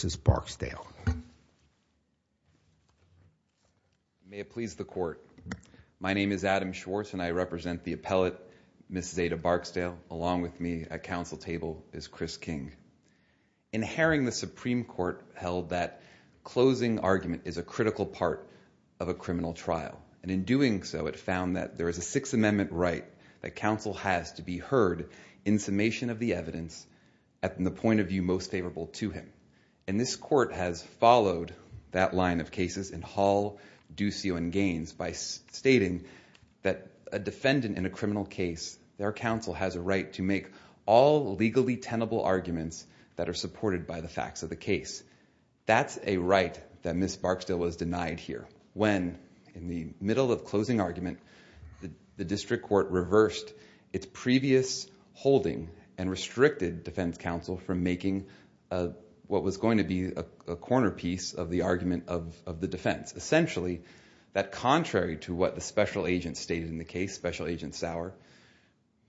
May it please the court. My name is Adam Schwartz and I represent the appellate Mrs. Zaydah Barksdale. Along with me at council table is Chris King. In herring the Supreme Court held that closing argument is a critical part of a criminal trial and in doing so it found that there is a Sixth Amendment right that counsel has to be heard in summation of the evidence at the point of view most favorable to him. And this court has followed that line of cases in Hall, Duccio and Gaines by stating that a defendant in a criminal case their counsel has a right to make all legally tenable arguments that are supported by the facts of the case. That's a right that Ms. Barksdale was denied here when in the middle of closing argument the district court reversed its previous holding and restricted defense counsel from making what was going to be a corner piece of the argument of the defense. Essentially that contrary to what the special agent stated in the case special agent Sauer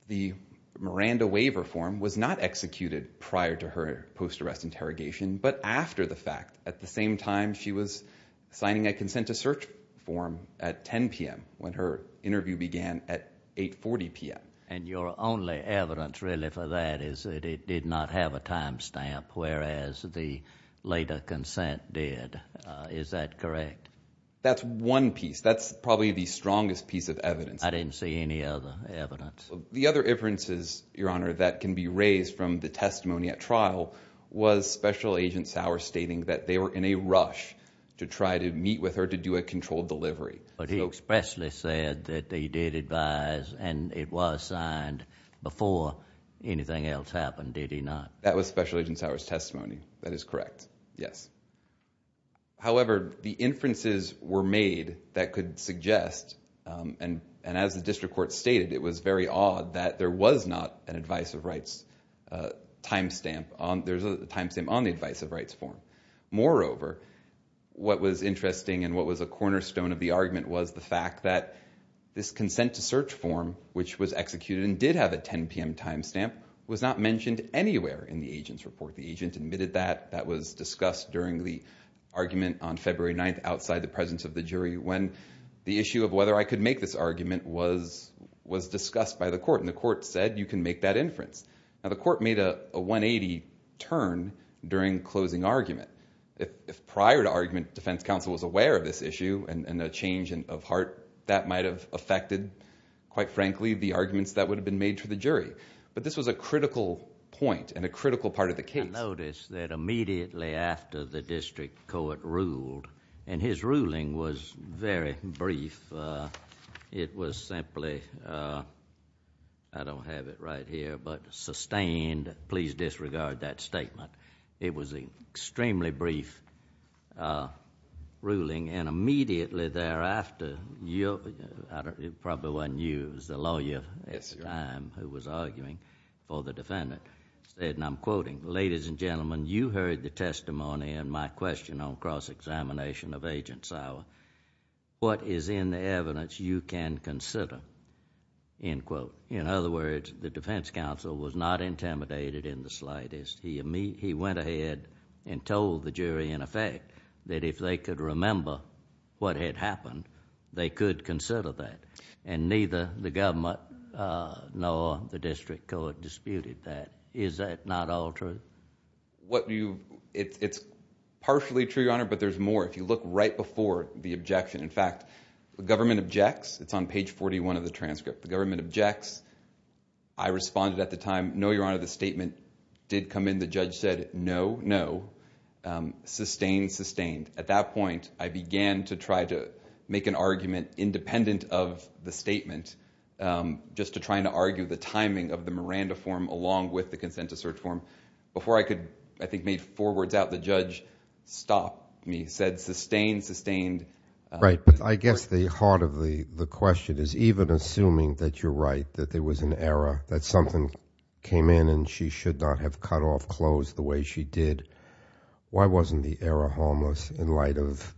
the Miranda waiver form was not executed prior to her post arrest interrogation but after the fact at the same time she was signing a consent to search form at 840 p.m. And your only evidence really for that is that it did not have a timestamp whereas the later consent did. Is that correct? That's one piece that's probably the strongest piece of evidence. I didn't see any other evidence. The other inferences your honor that can be raised from the testimony at trial was special agent Sauer stating that they were in a rush to try to meet with her to do a controlled delivery. But he expressly said that they did advise and it was signed before anything else happened did he not? That was special agent Sauer's testimony that is correct yes. However the inferences were made that could suggest and and as the district court stated it was very odd that there was not an advice of rights timestamp on there's a timestamp on the cornerstone of the argument was the fact that this consent to search form which was executed and did have a 10 p.m. timestamp was not mentioned anywhere in the agent's report. The agent admitted that that was discussed during the argument on February 9th outside the presence of the jury when the issue of whether I could make this argument was was discussed by the court and the court said you can make that inference. Now the court made a 180 turn during closing argument. If prior to argument defense counsel was aware of this issue and a change in of heart that might have affected quite frankly the arguments that would have been made to the jury. But this was a critical point and a critical part of the case. I noticed that immediately after the district court ruled and his ruling was very brief it was simply I don't have it right here but sustained please disregard that statement. It was a extremely brief ruling and immediately thereafter you probably one use the lawyer at the time who was arguing for the defendant said and I'm quoting ladies and gentlemen you heard the testimony and my question on cross-examination of agent Sauer. What is in the evidence you can consider? In other words the defense counsel was not intimidated in the slightest. He went ahead and told the jury in effect that if they could remember what had happened they could consider that and neither the government nor the district court disputed that. Is that not all true? What do you it's partially true your honor but there's more. If you look right before the objection in fact the government objects it's on it at the time no your honor the statement did come in the judge said no no sustained sustained. At that point I began to try to make an argument independent of the statement just to trying to argue the timing of the Miranda form along with the consent to search form. Before I could I think made four words out the judge stopped me said sustained sustained. Right but I guess the heart of the the question is even assuming that you're right that there came in and she should not have cut off clothes the way she did. Why wasn't the error harmless in light of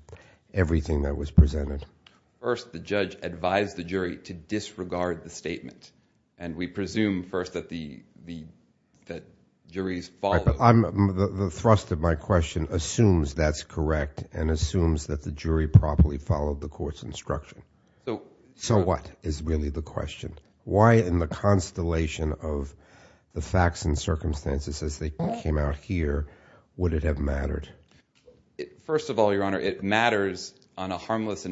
everything that was presented? First the judge advised the jury to disregard the statement and we presume first that the that juries follow. The thrust of my question assumes that's correct and assumes that the jury properly followed the court's instruction. So what is really the question? Why in the constellation of the facts and circumstances as they came out here would it have mattered? First of all your honor it matters on a harmless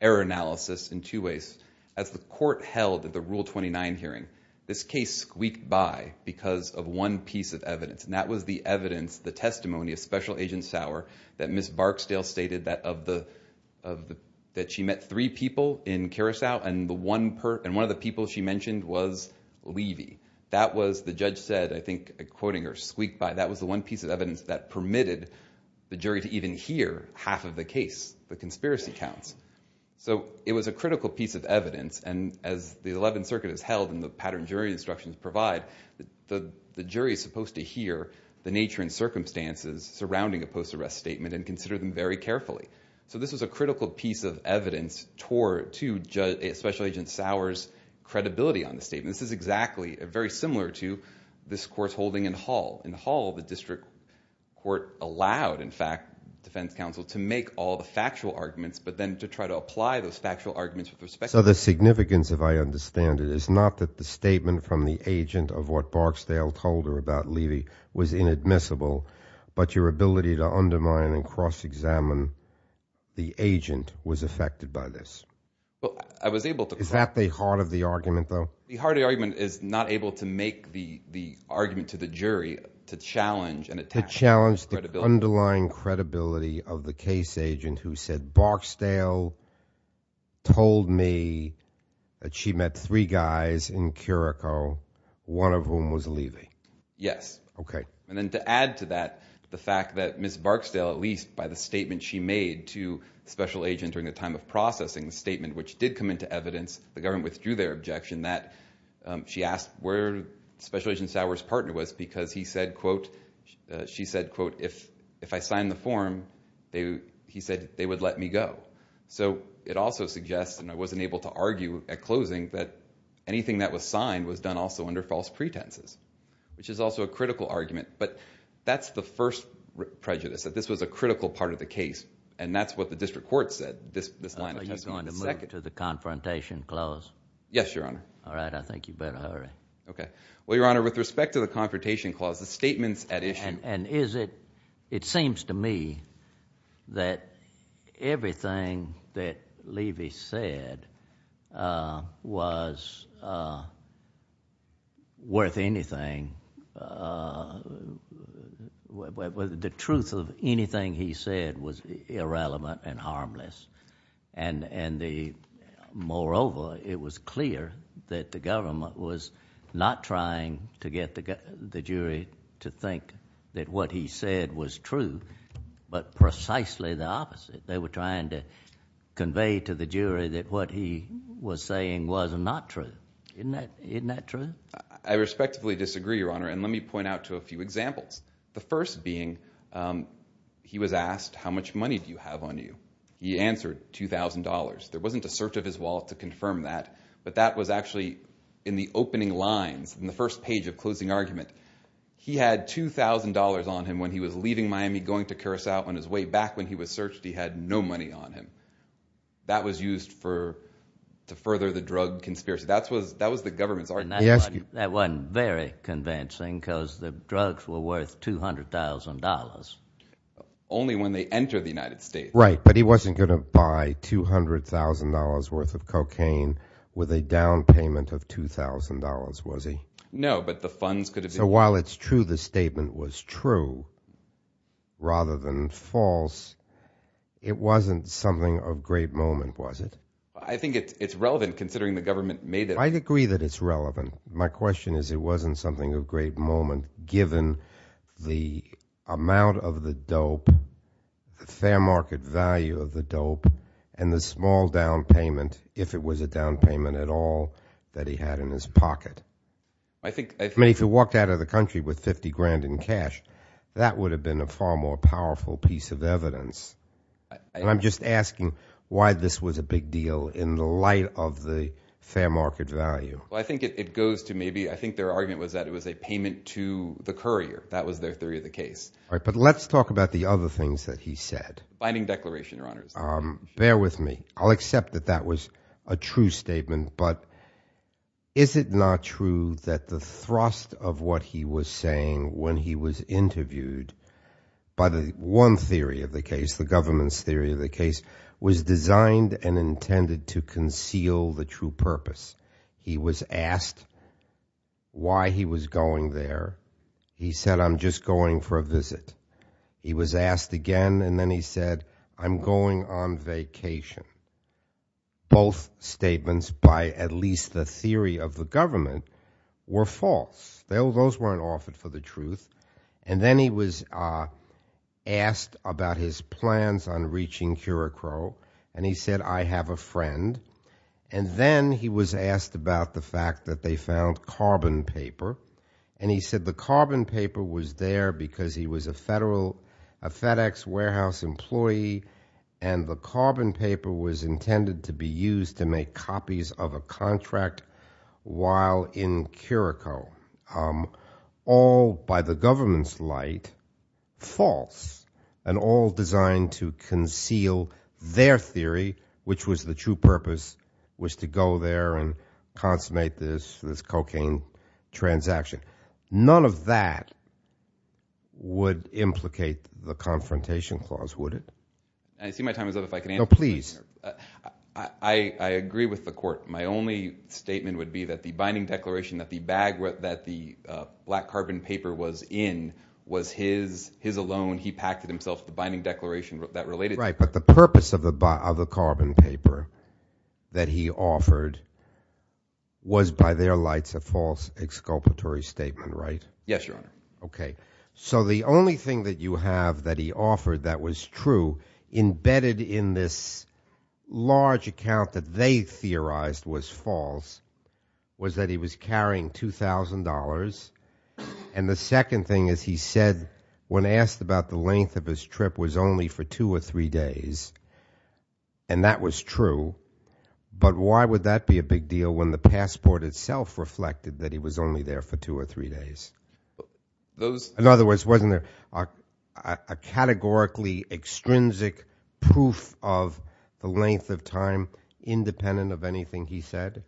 error analysis in two ways. As the court held at the rule 29 hearing this case squeaked by because of one piece of evidence and that was the evidence the testimony of special agent Sauer that Ms. Barksdale stated that of the of the that she met three people in Carousel and the one per and one of the people she mentioned was Levy. That was the judge said I think quoting her squeaked by that was the one piece of evidence that permitted the jury to even hear half of the case the conspiracy counts. So it was a critical piece of evidence and as the 11th Circuit is held in the pattern jury instructions provide the the jury is supposed to hear the nature and circumstances surrounding a post-arrest statement and consider them very carefully. So this was a critical piece of evidence toward to special agent Sauer's credibility on the statement. This is exactly very similar to this court's holding in Hall. In Hall the district court allowed in fact defense counsel to make all the factual arguments but then to try to apply those factual arguments with respect. So the significance if I understand it is not that the statement from the agent of what Barksdale told her about Levy was inadmissible but your ability to undermine and cross-examine the agent was affected by this. Well I was able to. Is that the heart of the argument though? The heart of the argument is not able to make the the argument to the jury to challenge and attack. To challenge the underlying credibility of the case agent who said Barksdale told me that she met three guys in Carousel one of whom was And then to add to that the fact that Miss Barksdale at least by the statement she made to special agent during the time of processing the statement which did come into evidence the government withdrew their objection that she asked where special agent Sauer's partner was because he said quote she said quote if if I signed the form they he said they would let me go. So it also suggests and I wasn't able to argue at closing that anything that was signed was done also under false pretenses which is also a critical argument but that's the first prejudice that this was a critical part of the case and that's what the district court said this this line of testimony. Are you going to move to the confrontation clause? Yes your honor. All right I think you better hurry. Okay well your honor with respect to the confrontation clause the statements at issue. And is it it seems to me that everything that Levy said was worth anything. The truth of anything he said was irrelevant and harmless and and the moreover it was clear that the government was not trying to get the jury to think that what he said was true but precisely the opposite. They were trying to convey to the jury that what he was saying was not true. Isn't that true? I respectively disagree your honor and let me point out to a few examples. The first being he was asked how much money do you have on you? He answered two thousand dollars. There wasn't a search of his wallet to confirm that but that was actually in the opening lines in the first page of closing argument. He had two thousand dollars on him when he was leaving Miami going to Curacao on his way back when he was searched he had no money on him. That was used for to further the drug conspiracy. That was that was the government's argument. That wasn't very convincing because the drugs were worth two hundred thousand dollars. Only when they enter the United States. Right but he wasn't gonna buy two hundred thousand dollars worth of cocaine with a down payment of two thousand dollars was he? No but the funds could have. So while it's true the statement was true rather than false it wasn't something of great moment was it? I think it's relevant considering the government made it. I agree that it's relevant. My question is it wasn't something of great moment given the amount of the dope, the fair market value of the dope and the small down payment if it was a down payment at all that he had in his pocket. I think I mean if you walked out of the country with 50 grand in cash that would have been a far more powerful piece of evidence. I'm just asking why this was a big deal in the light of the fair market value. I think it goes to maybe I think their argument was that it was a payment to the courier. That was their theory of the case. All right but let's talk about the other things that he said. Binding declaration your honors. Bear with me I'll accept that that was a true saying when he was interviewed by the one theory of the case the government's theory of the case was designed and intended to conceal the true purpose. He was asked why he was going there. He said I'm just going for a visit. He was asked again and then he said I'm going on vacation. Both statements by at least the government were false. Those weren't offered for the truth and then he was asked about his plans on reaching Kurokoro and he said I have a friend and then he was asked about the fact that they found carbon paper and he said the carbon paper was there because he was a federal FedEx warehouse employee and the in Kurokoro. All by the government's light false and all designed to conceal their theory which was the true purpose was to go there and consummate this cocaine transaction. None of that would implicate the confrontation clause would it? I see my time is up if I can. No please. I agree with the court. My only statement would be that the binding declaration that the bag that the black carbon paper was in was his his alone he packed himself the binding declaration that related. Right but the purpose of the carbon paper that he offered was by their lights a false exculpatory statement right? Yes your honor. Okay so the only thing that you have that he offered that was true embedded in this large account that they theorized was false was that he was carrying $2,000 and the second thing is he said when asked about the length of his trip was only for two or three days and that was true but why would that be a big deal when the passport itself reflected that he was only there for two or three days. Those in other words wasn't there a categorically extrinsic proof of the length of time independent of anything he said?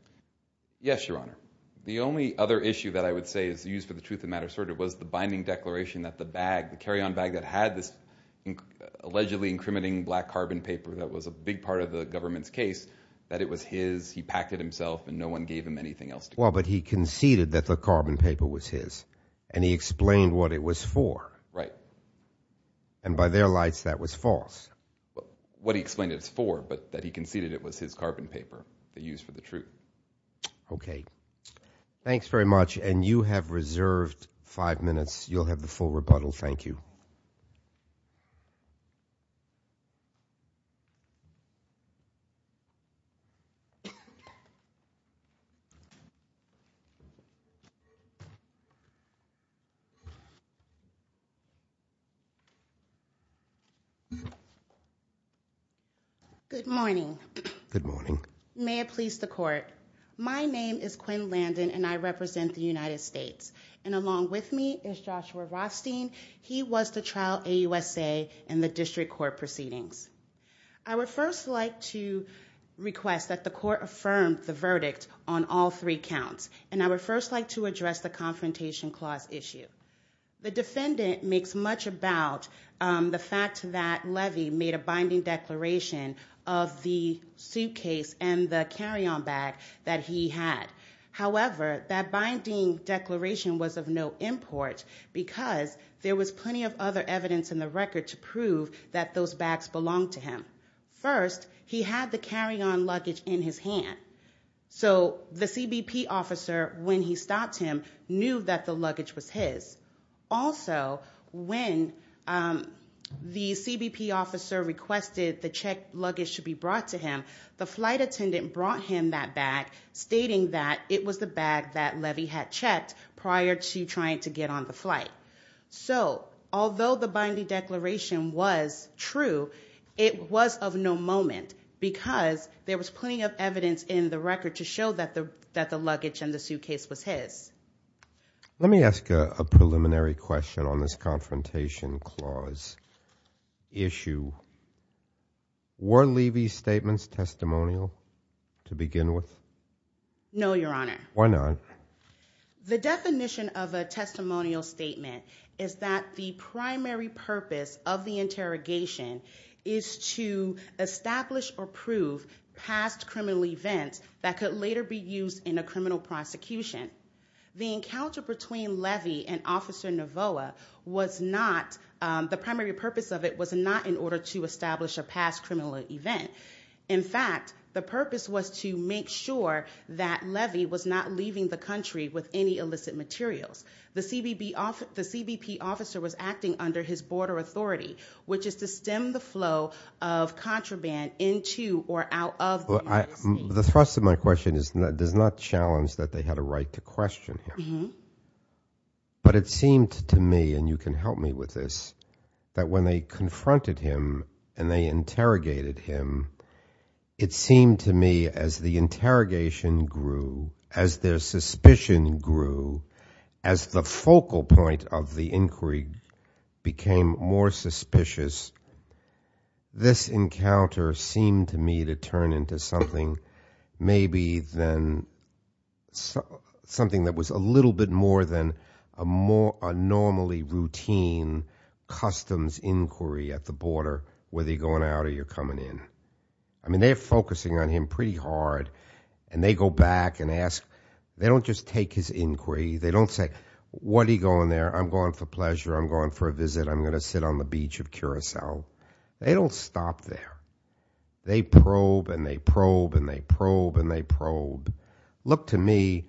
Yes your honor. The only other issue that I would say is used for the truth of matter sort of was the binding declaration that the bag the carry-on bag that had this allegedly incriminating black carbon paper that was a big part of the government's case that it was his he packed it himself and no one gave him anything else. Well but he conceded that the carbon paper was his and he explained what it was for right and by their lights that was false. What he explained it's for but that he conceded it was his carbon paper they used for the truth. Okay thanks very much and you have reserved five minutes you'll have the full rebuttal thank you. Good morning. Good morning. May it please the court my name is Quinn Landon and I represent the United States and along with me is Joshua Rothstein he was the trial AUSA in the district court proceedings. I would first like to request that the court affirmed the verdict on all three counts and I would first like to address the confrontation clause issue. The defendant makes much about the fact that Levy made a binding declaration of the suitcase and the carry-on bag that he had however that binding declaration was of no import because there was plenty of other evidence in the record to prove that those bags belonged to him. First he had the carry-on luggage in his hand so the person who brought him knew that the luggage was his. Also when the CBP officer requested the checked luggage should be brought to him the flight attendant brought him that bag stating that it was the bag that Levy had checked prior to trying to get on the flight. So although the binding declaration was true it was of no moment because there was plenty of evidence in that the luggage and the suitcase was his. Let me ask a preliminary question on this confrontation clause issue. Were Levy's statements testimonial to begin with? No your honor. Why not? The definition of a testimonial statement is that the primary purpose of the interrogation is to establish or prove past criminal events that could later be used in a criminal prosecution. The encounter between Levy and officer Navoah was not the primary purpose of it was not in order to establish a past criminal event. In fact the purpose was to make sure that Levy was not leaving the country with any illicit materials. The CBP officer was acting under his border authority which is to The thrust of my question is that does not challenge that they had a right to question him. But it seemed to me and you can help me with this that when they confronted him and they interrogated him it seemed to me as the interrogation grew as their suspicion grew as the focal point of the inquiry became more something maybe then something that was a little bit more than a more a normally routine customs inquiry at the border whether you're going out or you're coming in. I mean they're focusing on him pretty hard and they go back and ask they don't just take his inquiry they don't say what are you going there I'm going for pleasure I'm going for a visit I'm gonna sit on the beach of Curacao. They don't stop there. They probe and they probe and they probe and they probe. Look to me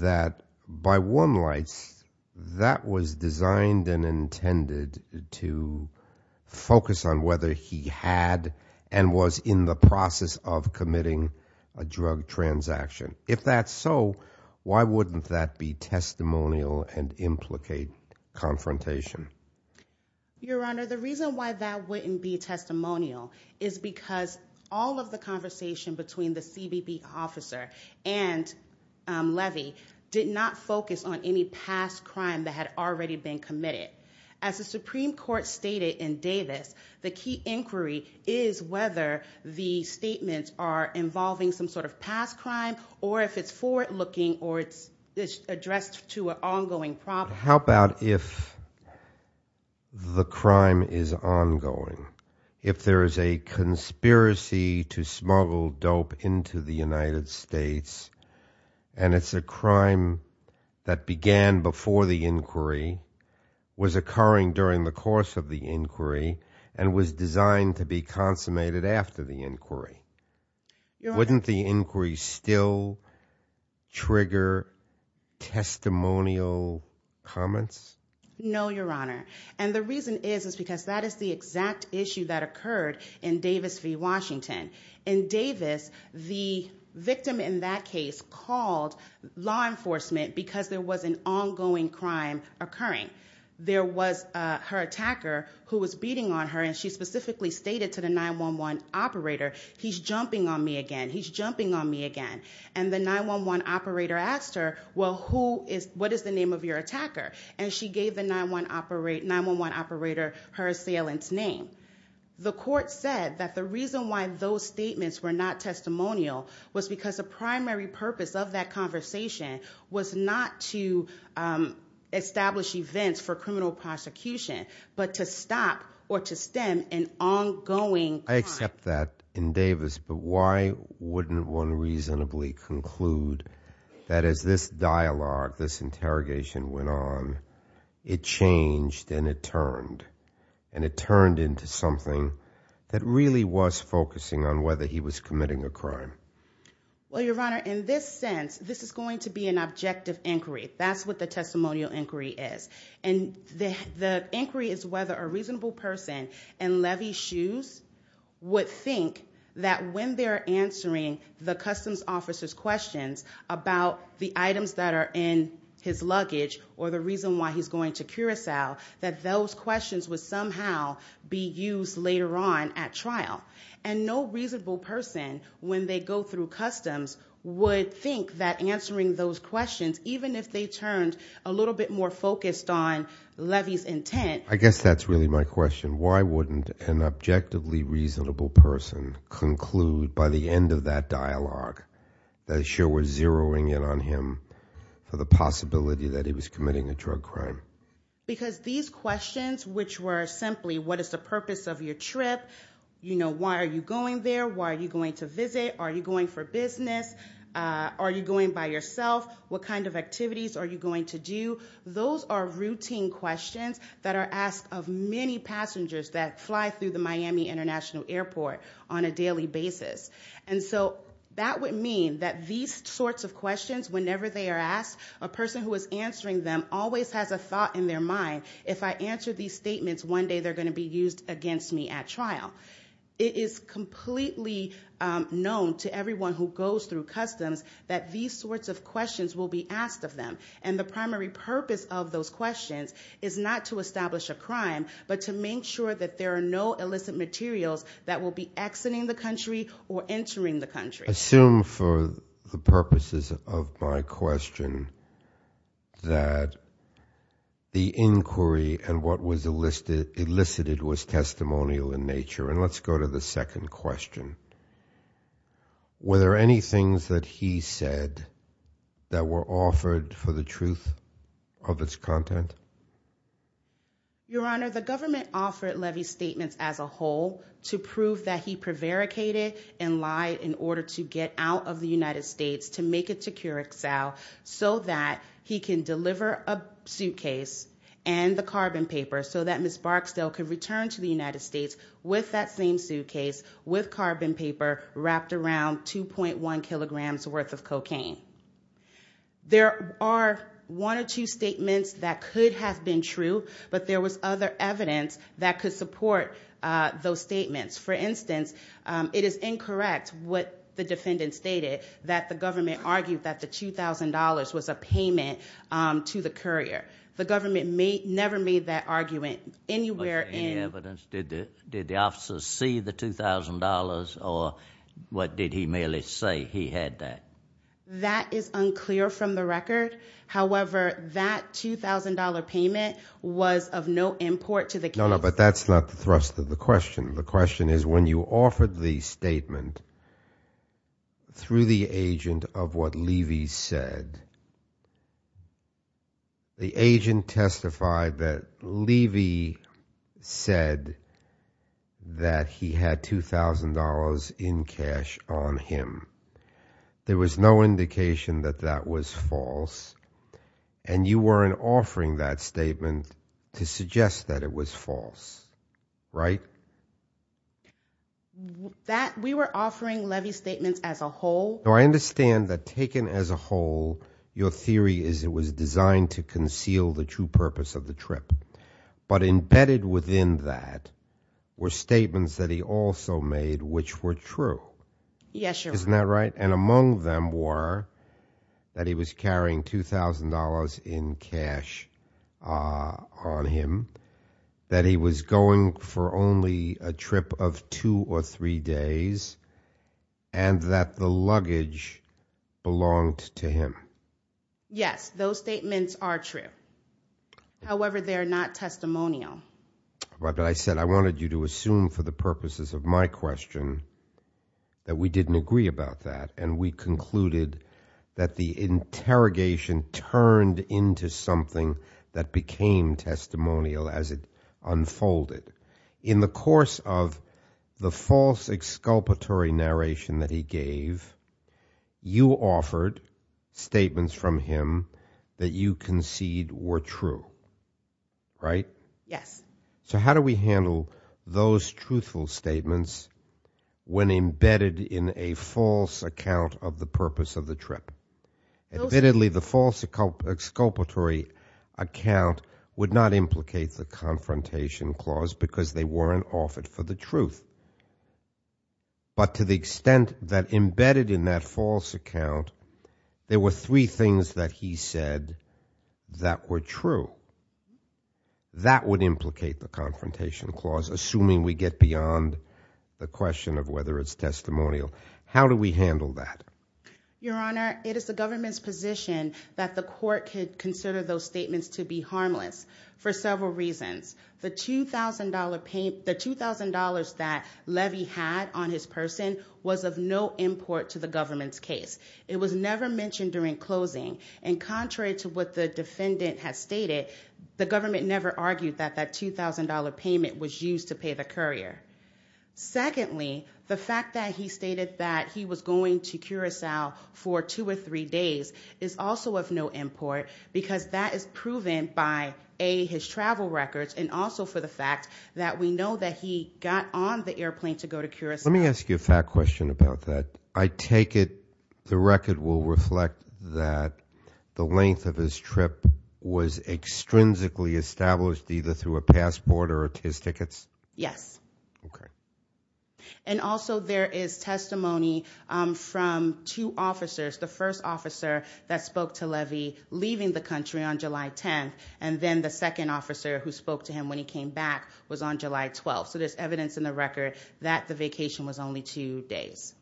that by warm lights that was designed and intended to focus on whether he had and was in the process of committing a drug transaction. If that's so why wouldn't that be testimonial and implicate confrontation? Your Honor the reason why that wouldn't be testimonial is because all of the conversation between the CBP officer and Levy did not focus on any past crime that had already been committed. As the Supreme Court stated in Davis the key inquiry is whether the statements are involving some sort of past crime or if it's forward-looking or it's addressed to an ongoing problem. How about if the crime is ongoing if there is a conspiracy to smuggle dope into the United States and it's a crime that began before the inquiry was occurring during the course of the inquiry and was designed to be consummated after the trigger testimonial comments? No Your Honor and the reason is is because that is the exact issue that occurred in Davis v. Washington. In Davis the victim in that case called law enforcement because there was an ongoing crime occurring. There was her attacker who was beating on her and she specifically stated to the 911 operator he's jumping on me again he's jumping on me again and the 911 operator asked her well who is what is the name of your attacker and she gave the 911 operator her assailant's name. The court said that the reason why those statements were not testimonial was because the primary purpose of that conversation was not to establish events for criminal prosecution but to stop or to stem an ongoing crime. I accept that in Davis but why wouldn't one reasonably conclude that as this dialogue this interrogation went on it changed and it turned and it turned into something that really was focusing on whether he was committing a crime? Well Your Honor in this sense this is going to be an objective inquiry that's what the testimonial inquiry is and the inquiry is whether a reasonable person in Levy's shoes would think that when they're answering the customs officer's questions about the items that are in his luggage or the reason why he's going to Curacao that those questions would somehow be used later on at trial and no reasonable person when they go through customs would think that answering those questions even if they turned a little bit more focused on Levy's intent. I guess that's really my reasonable person conclude by the end of that dialogue that she was zeroing in on him for the possibility that he was committing a drug crime. Because these questions which were simply what is the purpose of your trip you know why are you going there why are you going to visit are you going for business are you going by yourself what kind of activities are you going to do those are routine questions that are asked of many passengers that fly through the Miami International Airport on a daily basis and so that would mean that these sorts of questions whenever they are asked a person who is answering them always has a thought in their mind if I answer these statements one day they're going to be used against me at trial. It is completely known to everyone who goes through customs that these sorts of questions will be asked of them and the primary purpose of those questions is not to establish a crime but to make sure that there are no illicit materials that will be exiting the country or entering the country. Assume for the purposes of my question that the inquiry and what was elicited was testimonial in nature and let's go to the second question. Were there any things that he said that were offered for the as a whole to prove that he prevaricated and lied in order to get out of the United States to make it to Curacao so that he can deliver a suitcase and the carbon paper so that Ms. Barksdale could return to the United States with that same suitcase with carbon paper wrapped around 2.1 kilograms worth of cocaine. There are one or two statements that could have been true but there was other evidence that could support those statements. For instance, it is incorrect what the defendant stated that the government argued that the $2,000 was a payment to the courier. The government may never made that argument anywhere in evidence. Did the officers see the $2,000 or what did he merely say he had that? That is unclear from the record. However, that $2,000 payment was of no import to the case. No, no, but that's not the thrust of the question. The question is when you offered the statement through the agent of what Levy said, the agent testified that Levy said that he had $2,000 in cash on him. There was no indication that that was false and you weren't offering that statement to suggest that it was false, right? We were offering Levy's statements as a whole. I understand that taken as a whole, your theory is it was designed to conceal the true purpose of the trip but embedded within that were statements that he also made which were true. Yes, Your Honor. Isn't that right? And among them were that he was going for only a trip of two or three days and that the luggage belonged to him. Yes, those statements are true. However, they are not testimonial. But I said I wanted you to assume for the purposes of my question that we didn't agree about that and we concluded that the interrogation turned into something that was not testimonial as it unfolded. In the course of the false exculpatory narration that he gave, you offered statements from him that you concede were true, right? Yes. So how do we handle those truthful statements when embedded in a false account of the purpose of the trip? Admittedly, the false exculpatory account would not implicate the confrontation clause because they weren't offered for the truth. But to the extent that embedded in that false account, there were three things that he said that were true. That would implicate the confrontation clause assuming we get beyond the question of whether it's testimonial. How do we handle that? Your Honor, it is the government's position that the court could consider those statements to be harmless for several reasons. The $2,000 that Levy had on his person was of no import to the government's case. It was never mentioned during closing and contrary to what the defendant has stated, the government never argued that that $2,000 payment was used to pay the courier. Secondly, the fact that he stated that he was going to because that is proven by A, his travel records and also for the fact that we know that he got on the airplane to go to Curacao. Let me ask you a fact question about that. I take it the record will reflect that the length of his trip was extrinsically established either through a passport or his tickets? Yes. Okay. And also there is testimony from two officers, the first officer that was leaving the country on July 10th, and then the second officer who spoke to him when he came back was on July 12th. There's evidence in the record that the vacation was only two days.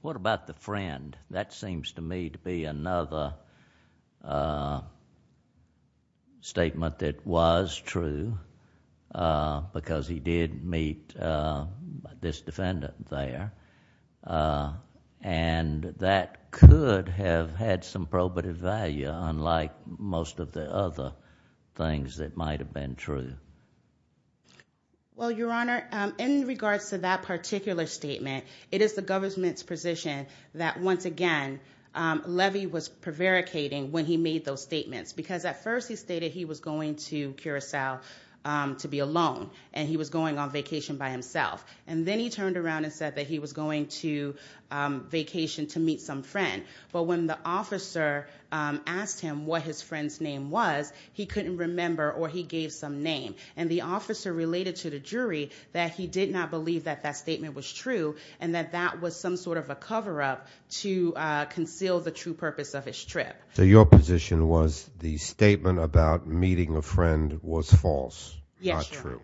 What about the friend? That seems to me to be another statement that was true because he did meet this defendant there. That could have had some probative value unlike most of the other things that might have been true. Well, Your Honor, in regards to that particular statement, it is the government's position that once again, Levy was prevaricating when he made those statements because at first he stated he was going to Curacao to be alone and he was going on vacation by himself and then he turned around and said that he was going to vacation to meet some friend. But when the officer asked him what his friend's name was, he couldn't remember or he gave some name. And the officer related to the jury that he did not believe that that statement was true and that that was some sort of a cover-up to conceal the true purpose of his trip. So your position was the statement about meeting a friend was false, not true,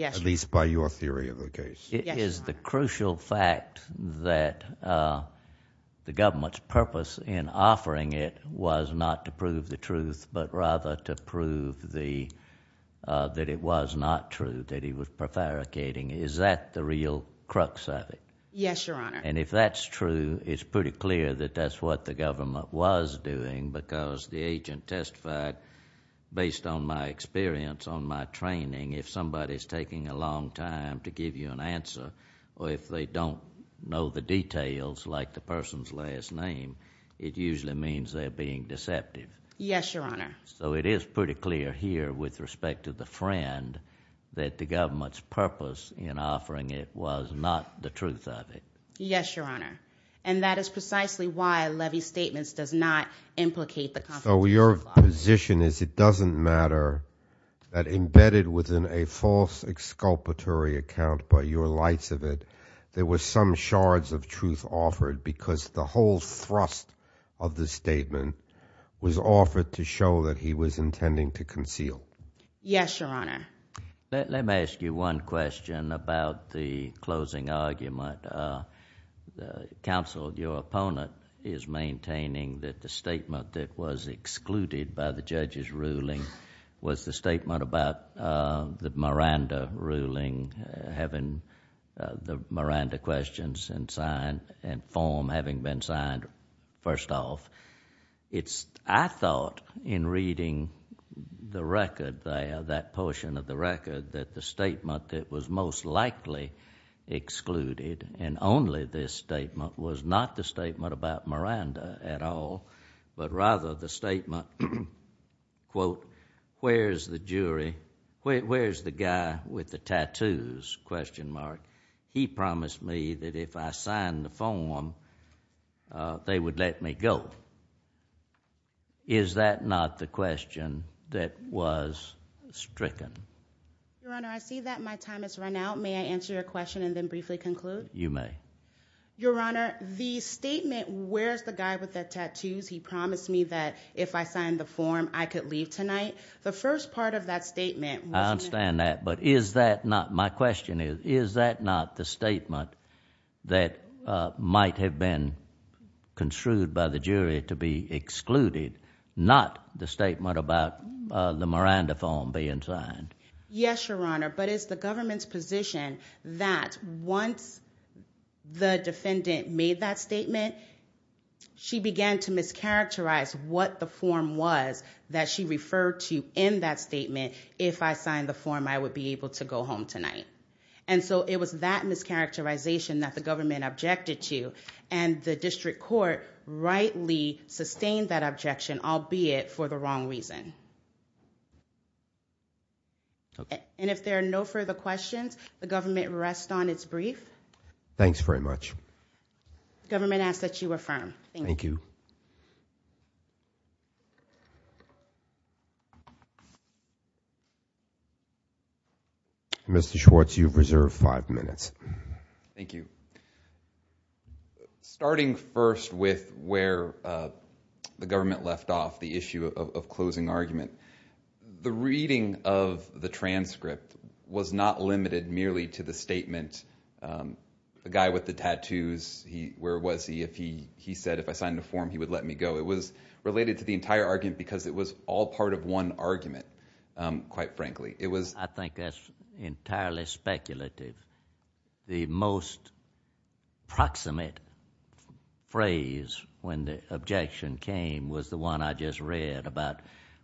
at least by your theory of the case. It is the crucial fact that the government's purpose in offering it was not to prove the truth but rather to prove that it was not true, that he was prevaricating. Is that the real crux of it? Yes, Your Honor. And if that's true, it's pretty clear that that's what the somebody's taking a long time to give you an answer or if they don't know the details, like the person's last name, it usually means they're being deceptive. Yes, Your Honor. So it is pretty clear here with respect to the friend that the government's purpose in offering it was not the truth of it. Yes, Your Honor. And that is precisely why Levy's statements does not implicate the... So your position is it doesn't matter that embedded within a false exculpatory account by your lights of it, there was some shards of truth offered because the whole thrust of the statement was offered to show that he was intending to conceal. Yes, Your Honor. Let me ask you one question about the closing argument. Counsel, your opponent is maintaining that the statement that was excluded by the judge's ruling was the statement about the Miranda ruling, having the Miranda questions and form having been signed first off. I thought in reading the record there, that portion of the record, that the statement that was most directly excluded and only this statement was not the statement about Miranda at all, but rather the statement, quote, where's the jury, where's the guy with the tattoos, question mark. He promised me that if I signed the form, they would let me go. Is that not the question that was stricken? Your Honor, I see that my time has run out. May I answer your question and then briefly conclude? You may. Your Honor, the statement, where's the guy with the tattoos, he promised me that if I signed the form, I could leave tonight. The first part of that statement... I understand that, but is that not, my question is, is that not the statement that might have been construed by the jury to be Yes, Your Honor, but it's the government's position that once the defendant made that statement, she began to mischaracterize what the form was that she referred to in that statement, if I signed the form, I would be able to go home tonight. And so it was that mischaracterization that the government objected to, and the district court rightly sustained that objection, albeit for the wrong reason. And if there are no further questions, the government rests on its brief. Thanks very much. Government asks that you affirm. Thank you. Mr. Schwartz, you've reserved five minutes. Thank you. Starting first with where the issue of closing argument. The reading of the transcript was not limited merely to the statement, the guy with the tattoos, he, where was he, if he, he said if I signed the form, he would let me go. It was related to the entire argument because it was all part of one argument, quite frankly. It was... I think that's entirely speculative. The most proximate phrase when the objection came was the one I just read about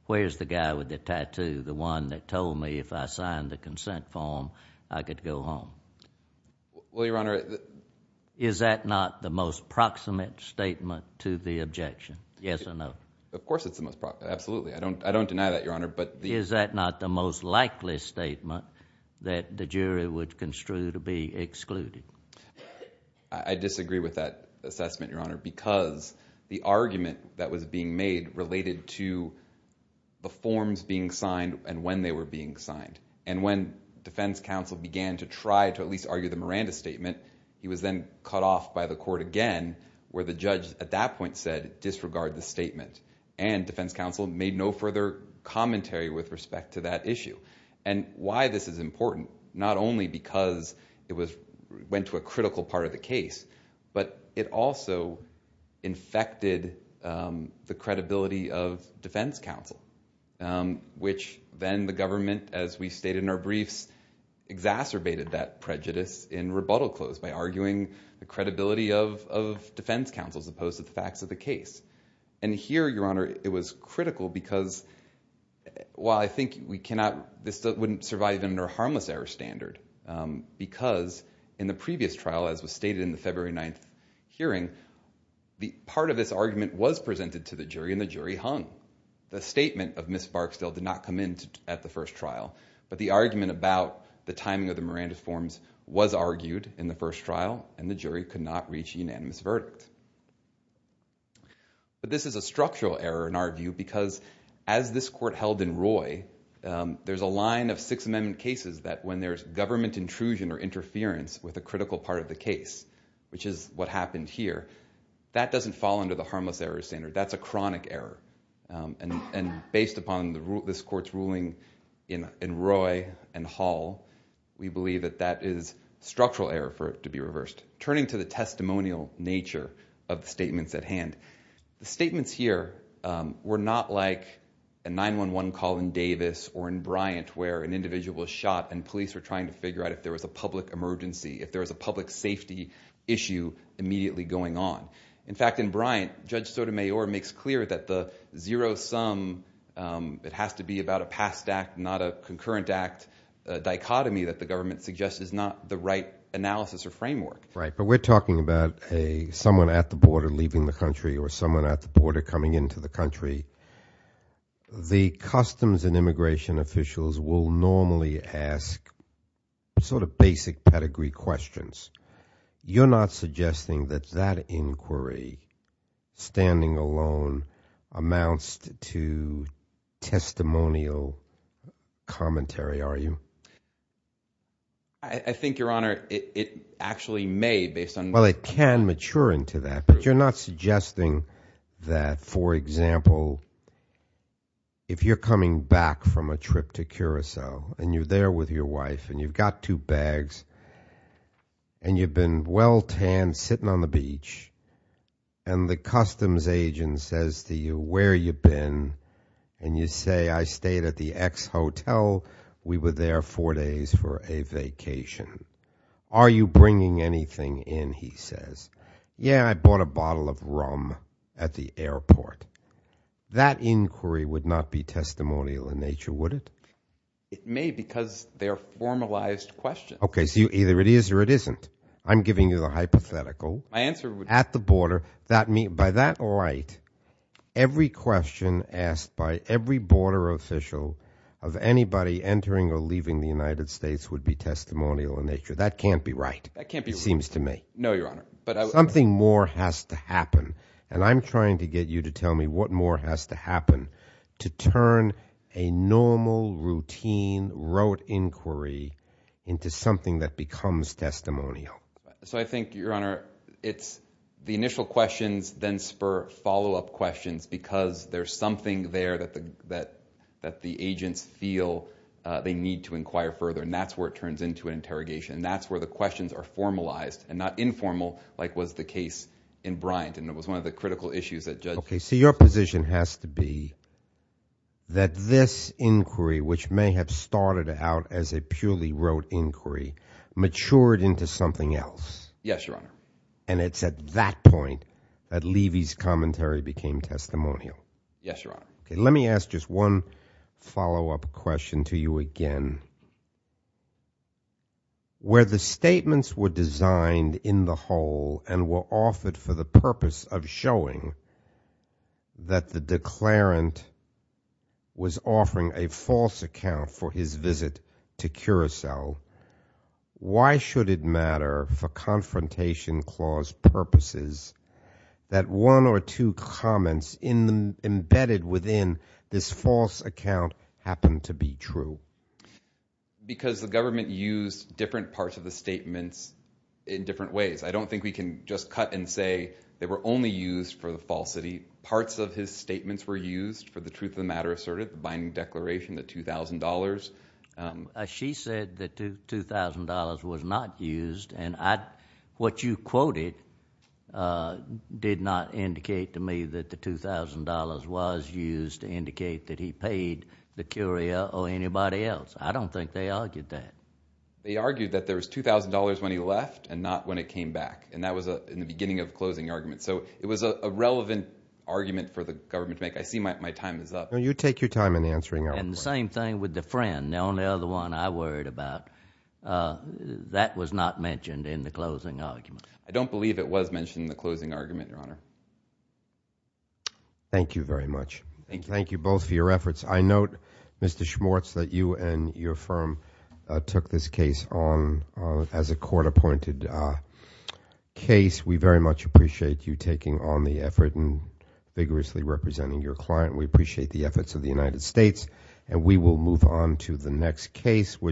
where's the guy with the tattoo, the one that told me if I signed the consent form, I could go home. Well, Your Honor... Is that not the most proximate statement to the objection? Yes or no? Of course it's the most proximate, absolutely. I don't, I don't deny that, Your Honor, but... Is that not the most likely statement that the jury would construe to be excluded? I disagree with that assessment, Your Honor, because the argument that was being made related to the forms being signed and when they were being signed. And when defense counsel began to try to at least argue the Miranda statement, he was then cut off by the court again where the judge at that point said disregard the statement. And defense counsel made no further commentary with respect to that issue. And why this is important, not only because it was, went to a critical part of the case, but it also infected the credibility of defense counsel, which then the government, as we stated in our briefs, exacerbated that prejudice in rebuttal clause by arguing the credibility of defense counsel as opposed to the facts of the case. And here, Your Honor, it was critical because, while I think we cannot, this wouldn't survive under a harmless error standard, because in the previous trial, as was stated in the February 9th hearing, the part of this argument was presented to the jury and the jury hung. The statement of Ms. Barksdale did not come in at the first trial, but the argument about the timing of the Miranda forms was argued in the first trial and the jury could not reach a unanimous verdict. But this is a structural error in our view because as this court held in Roy, there's a line of Sixth Amendment cases that when there's government intrusion or interference with a critical part of the case, which is what happened here, that doesn't fall under the harmless error standard. That's a chronic error. And based upon the rule, this court's ruling in Roy and Hall, we believe that that is structural error for it to be reversed. Turning to the testimonial nature of the statements at hand, the statements here were not like a 911 call in Davis or in Bryant where an individual was shot and police were trying to figure out if there was a public emergency, if there was a public safety issue immediately going on. In fact, in Bryant, Judge Sotomayor makes clear that the zero-sum, it has to be about a past act, not a concurrent act, dichotomy that the government suggests is not the right analysis or framework. Right, but we're talking about a someone at the border leaving the country or someone at the border coming into the country. The customs and immigration officials will normally ask sort of basic pedigree questions. You're not suggesting that that inquiry, standing alone, amounts to testimonial commentary, are you? I think, Your Honor, it actually may, based on... Well, it can mature into that, but you're not suggesting that, for example, if you're coming back from a trip to Curaçao and you're there with your wife and you've got two bags and you've been well tanned sitting on the beach and the customs agent says to you, where you been? And you say, I stayed at the ex-hotel, we were there four days for a vacation. Are you bringing anything in, he says. Yeah, I would not be testimonial in nature, would it? It may, because they are formalized questions. Okay, so either it is or it isn't. I'm giving you the hypothetical. My answer would be... At the border, by that right, every question asked by every border official of anybody entering or leaving the United States would be testimonial in nature. That can't be right, it seems to me. No, Your Honor, but... Something more has to happen, and I'm trying to get you to turn a normal, routine, rote inquiry into something that becomes testimonial. So I think, Your Honor, it's the initial questions then spur follow-up questions because there's something there that the agents feel they need to inquire further, and that's where it turns into an interrogation, and that's where the questions are formalized and not informal like was the case in Bryant, and it was one of the critical issues that judge... Okay, so your position has to be that this inquiry, which may have started out as a purely rote inquiry, matured into something else. Yes, Your Honor. And it's at that point that Levy's commentary became testimonial. Yes, Your Honor. Okay, let me ask just one follow-up question to you again. Where the statements were designed in the whole and were offered for the purpose of showing that the declarant was offering a false account for his visit to Curacao, why should it matter for Confrontation Clause purposes that one or two comments embedded within this false account happen to be true? Because the government used different parts of the statements in different ways. I don't think we can just cut and say they were only used for the falsity. Parts of his statements were used for the truth of the matter asserted, the binding declaration, the $2,000. She said that $2,000 was not used, and what you quoted did not indicate to me that the $2,000 was used to indicate that he paid the Curacao or anybody else. I don't think they argued that. They argued that there was $2,000 when he left and not when it came back, and that was in the beginning of the closing argument. So it was a relevant argument for the government to make. I see my time is up. You take your time in answering. And the same thing with the friend, the only other one I worried about. That was not mentioned in the closing argument. I don't believe it was mentioned in the closing argument, Your Honor. Thank you very much. Thank you. Thank you both for your efforts. I note, Mr. Schmortz, that you and your firm took this case on as a court-appointed case. We very much appreciate you taking on the effort and vigorously representing your client. We appreciate the efforts of the United States, and we will move on to the next case, which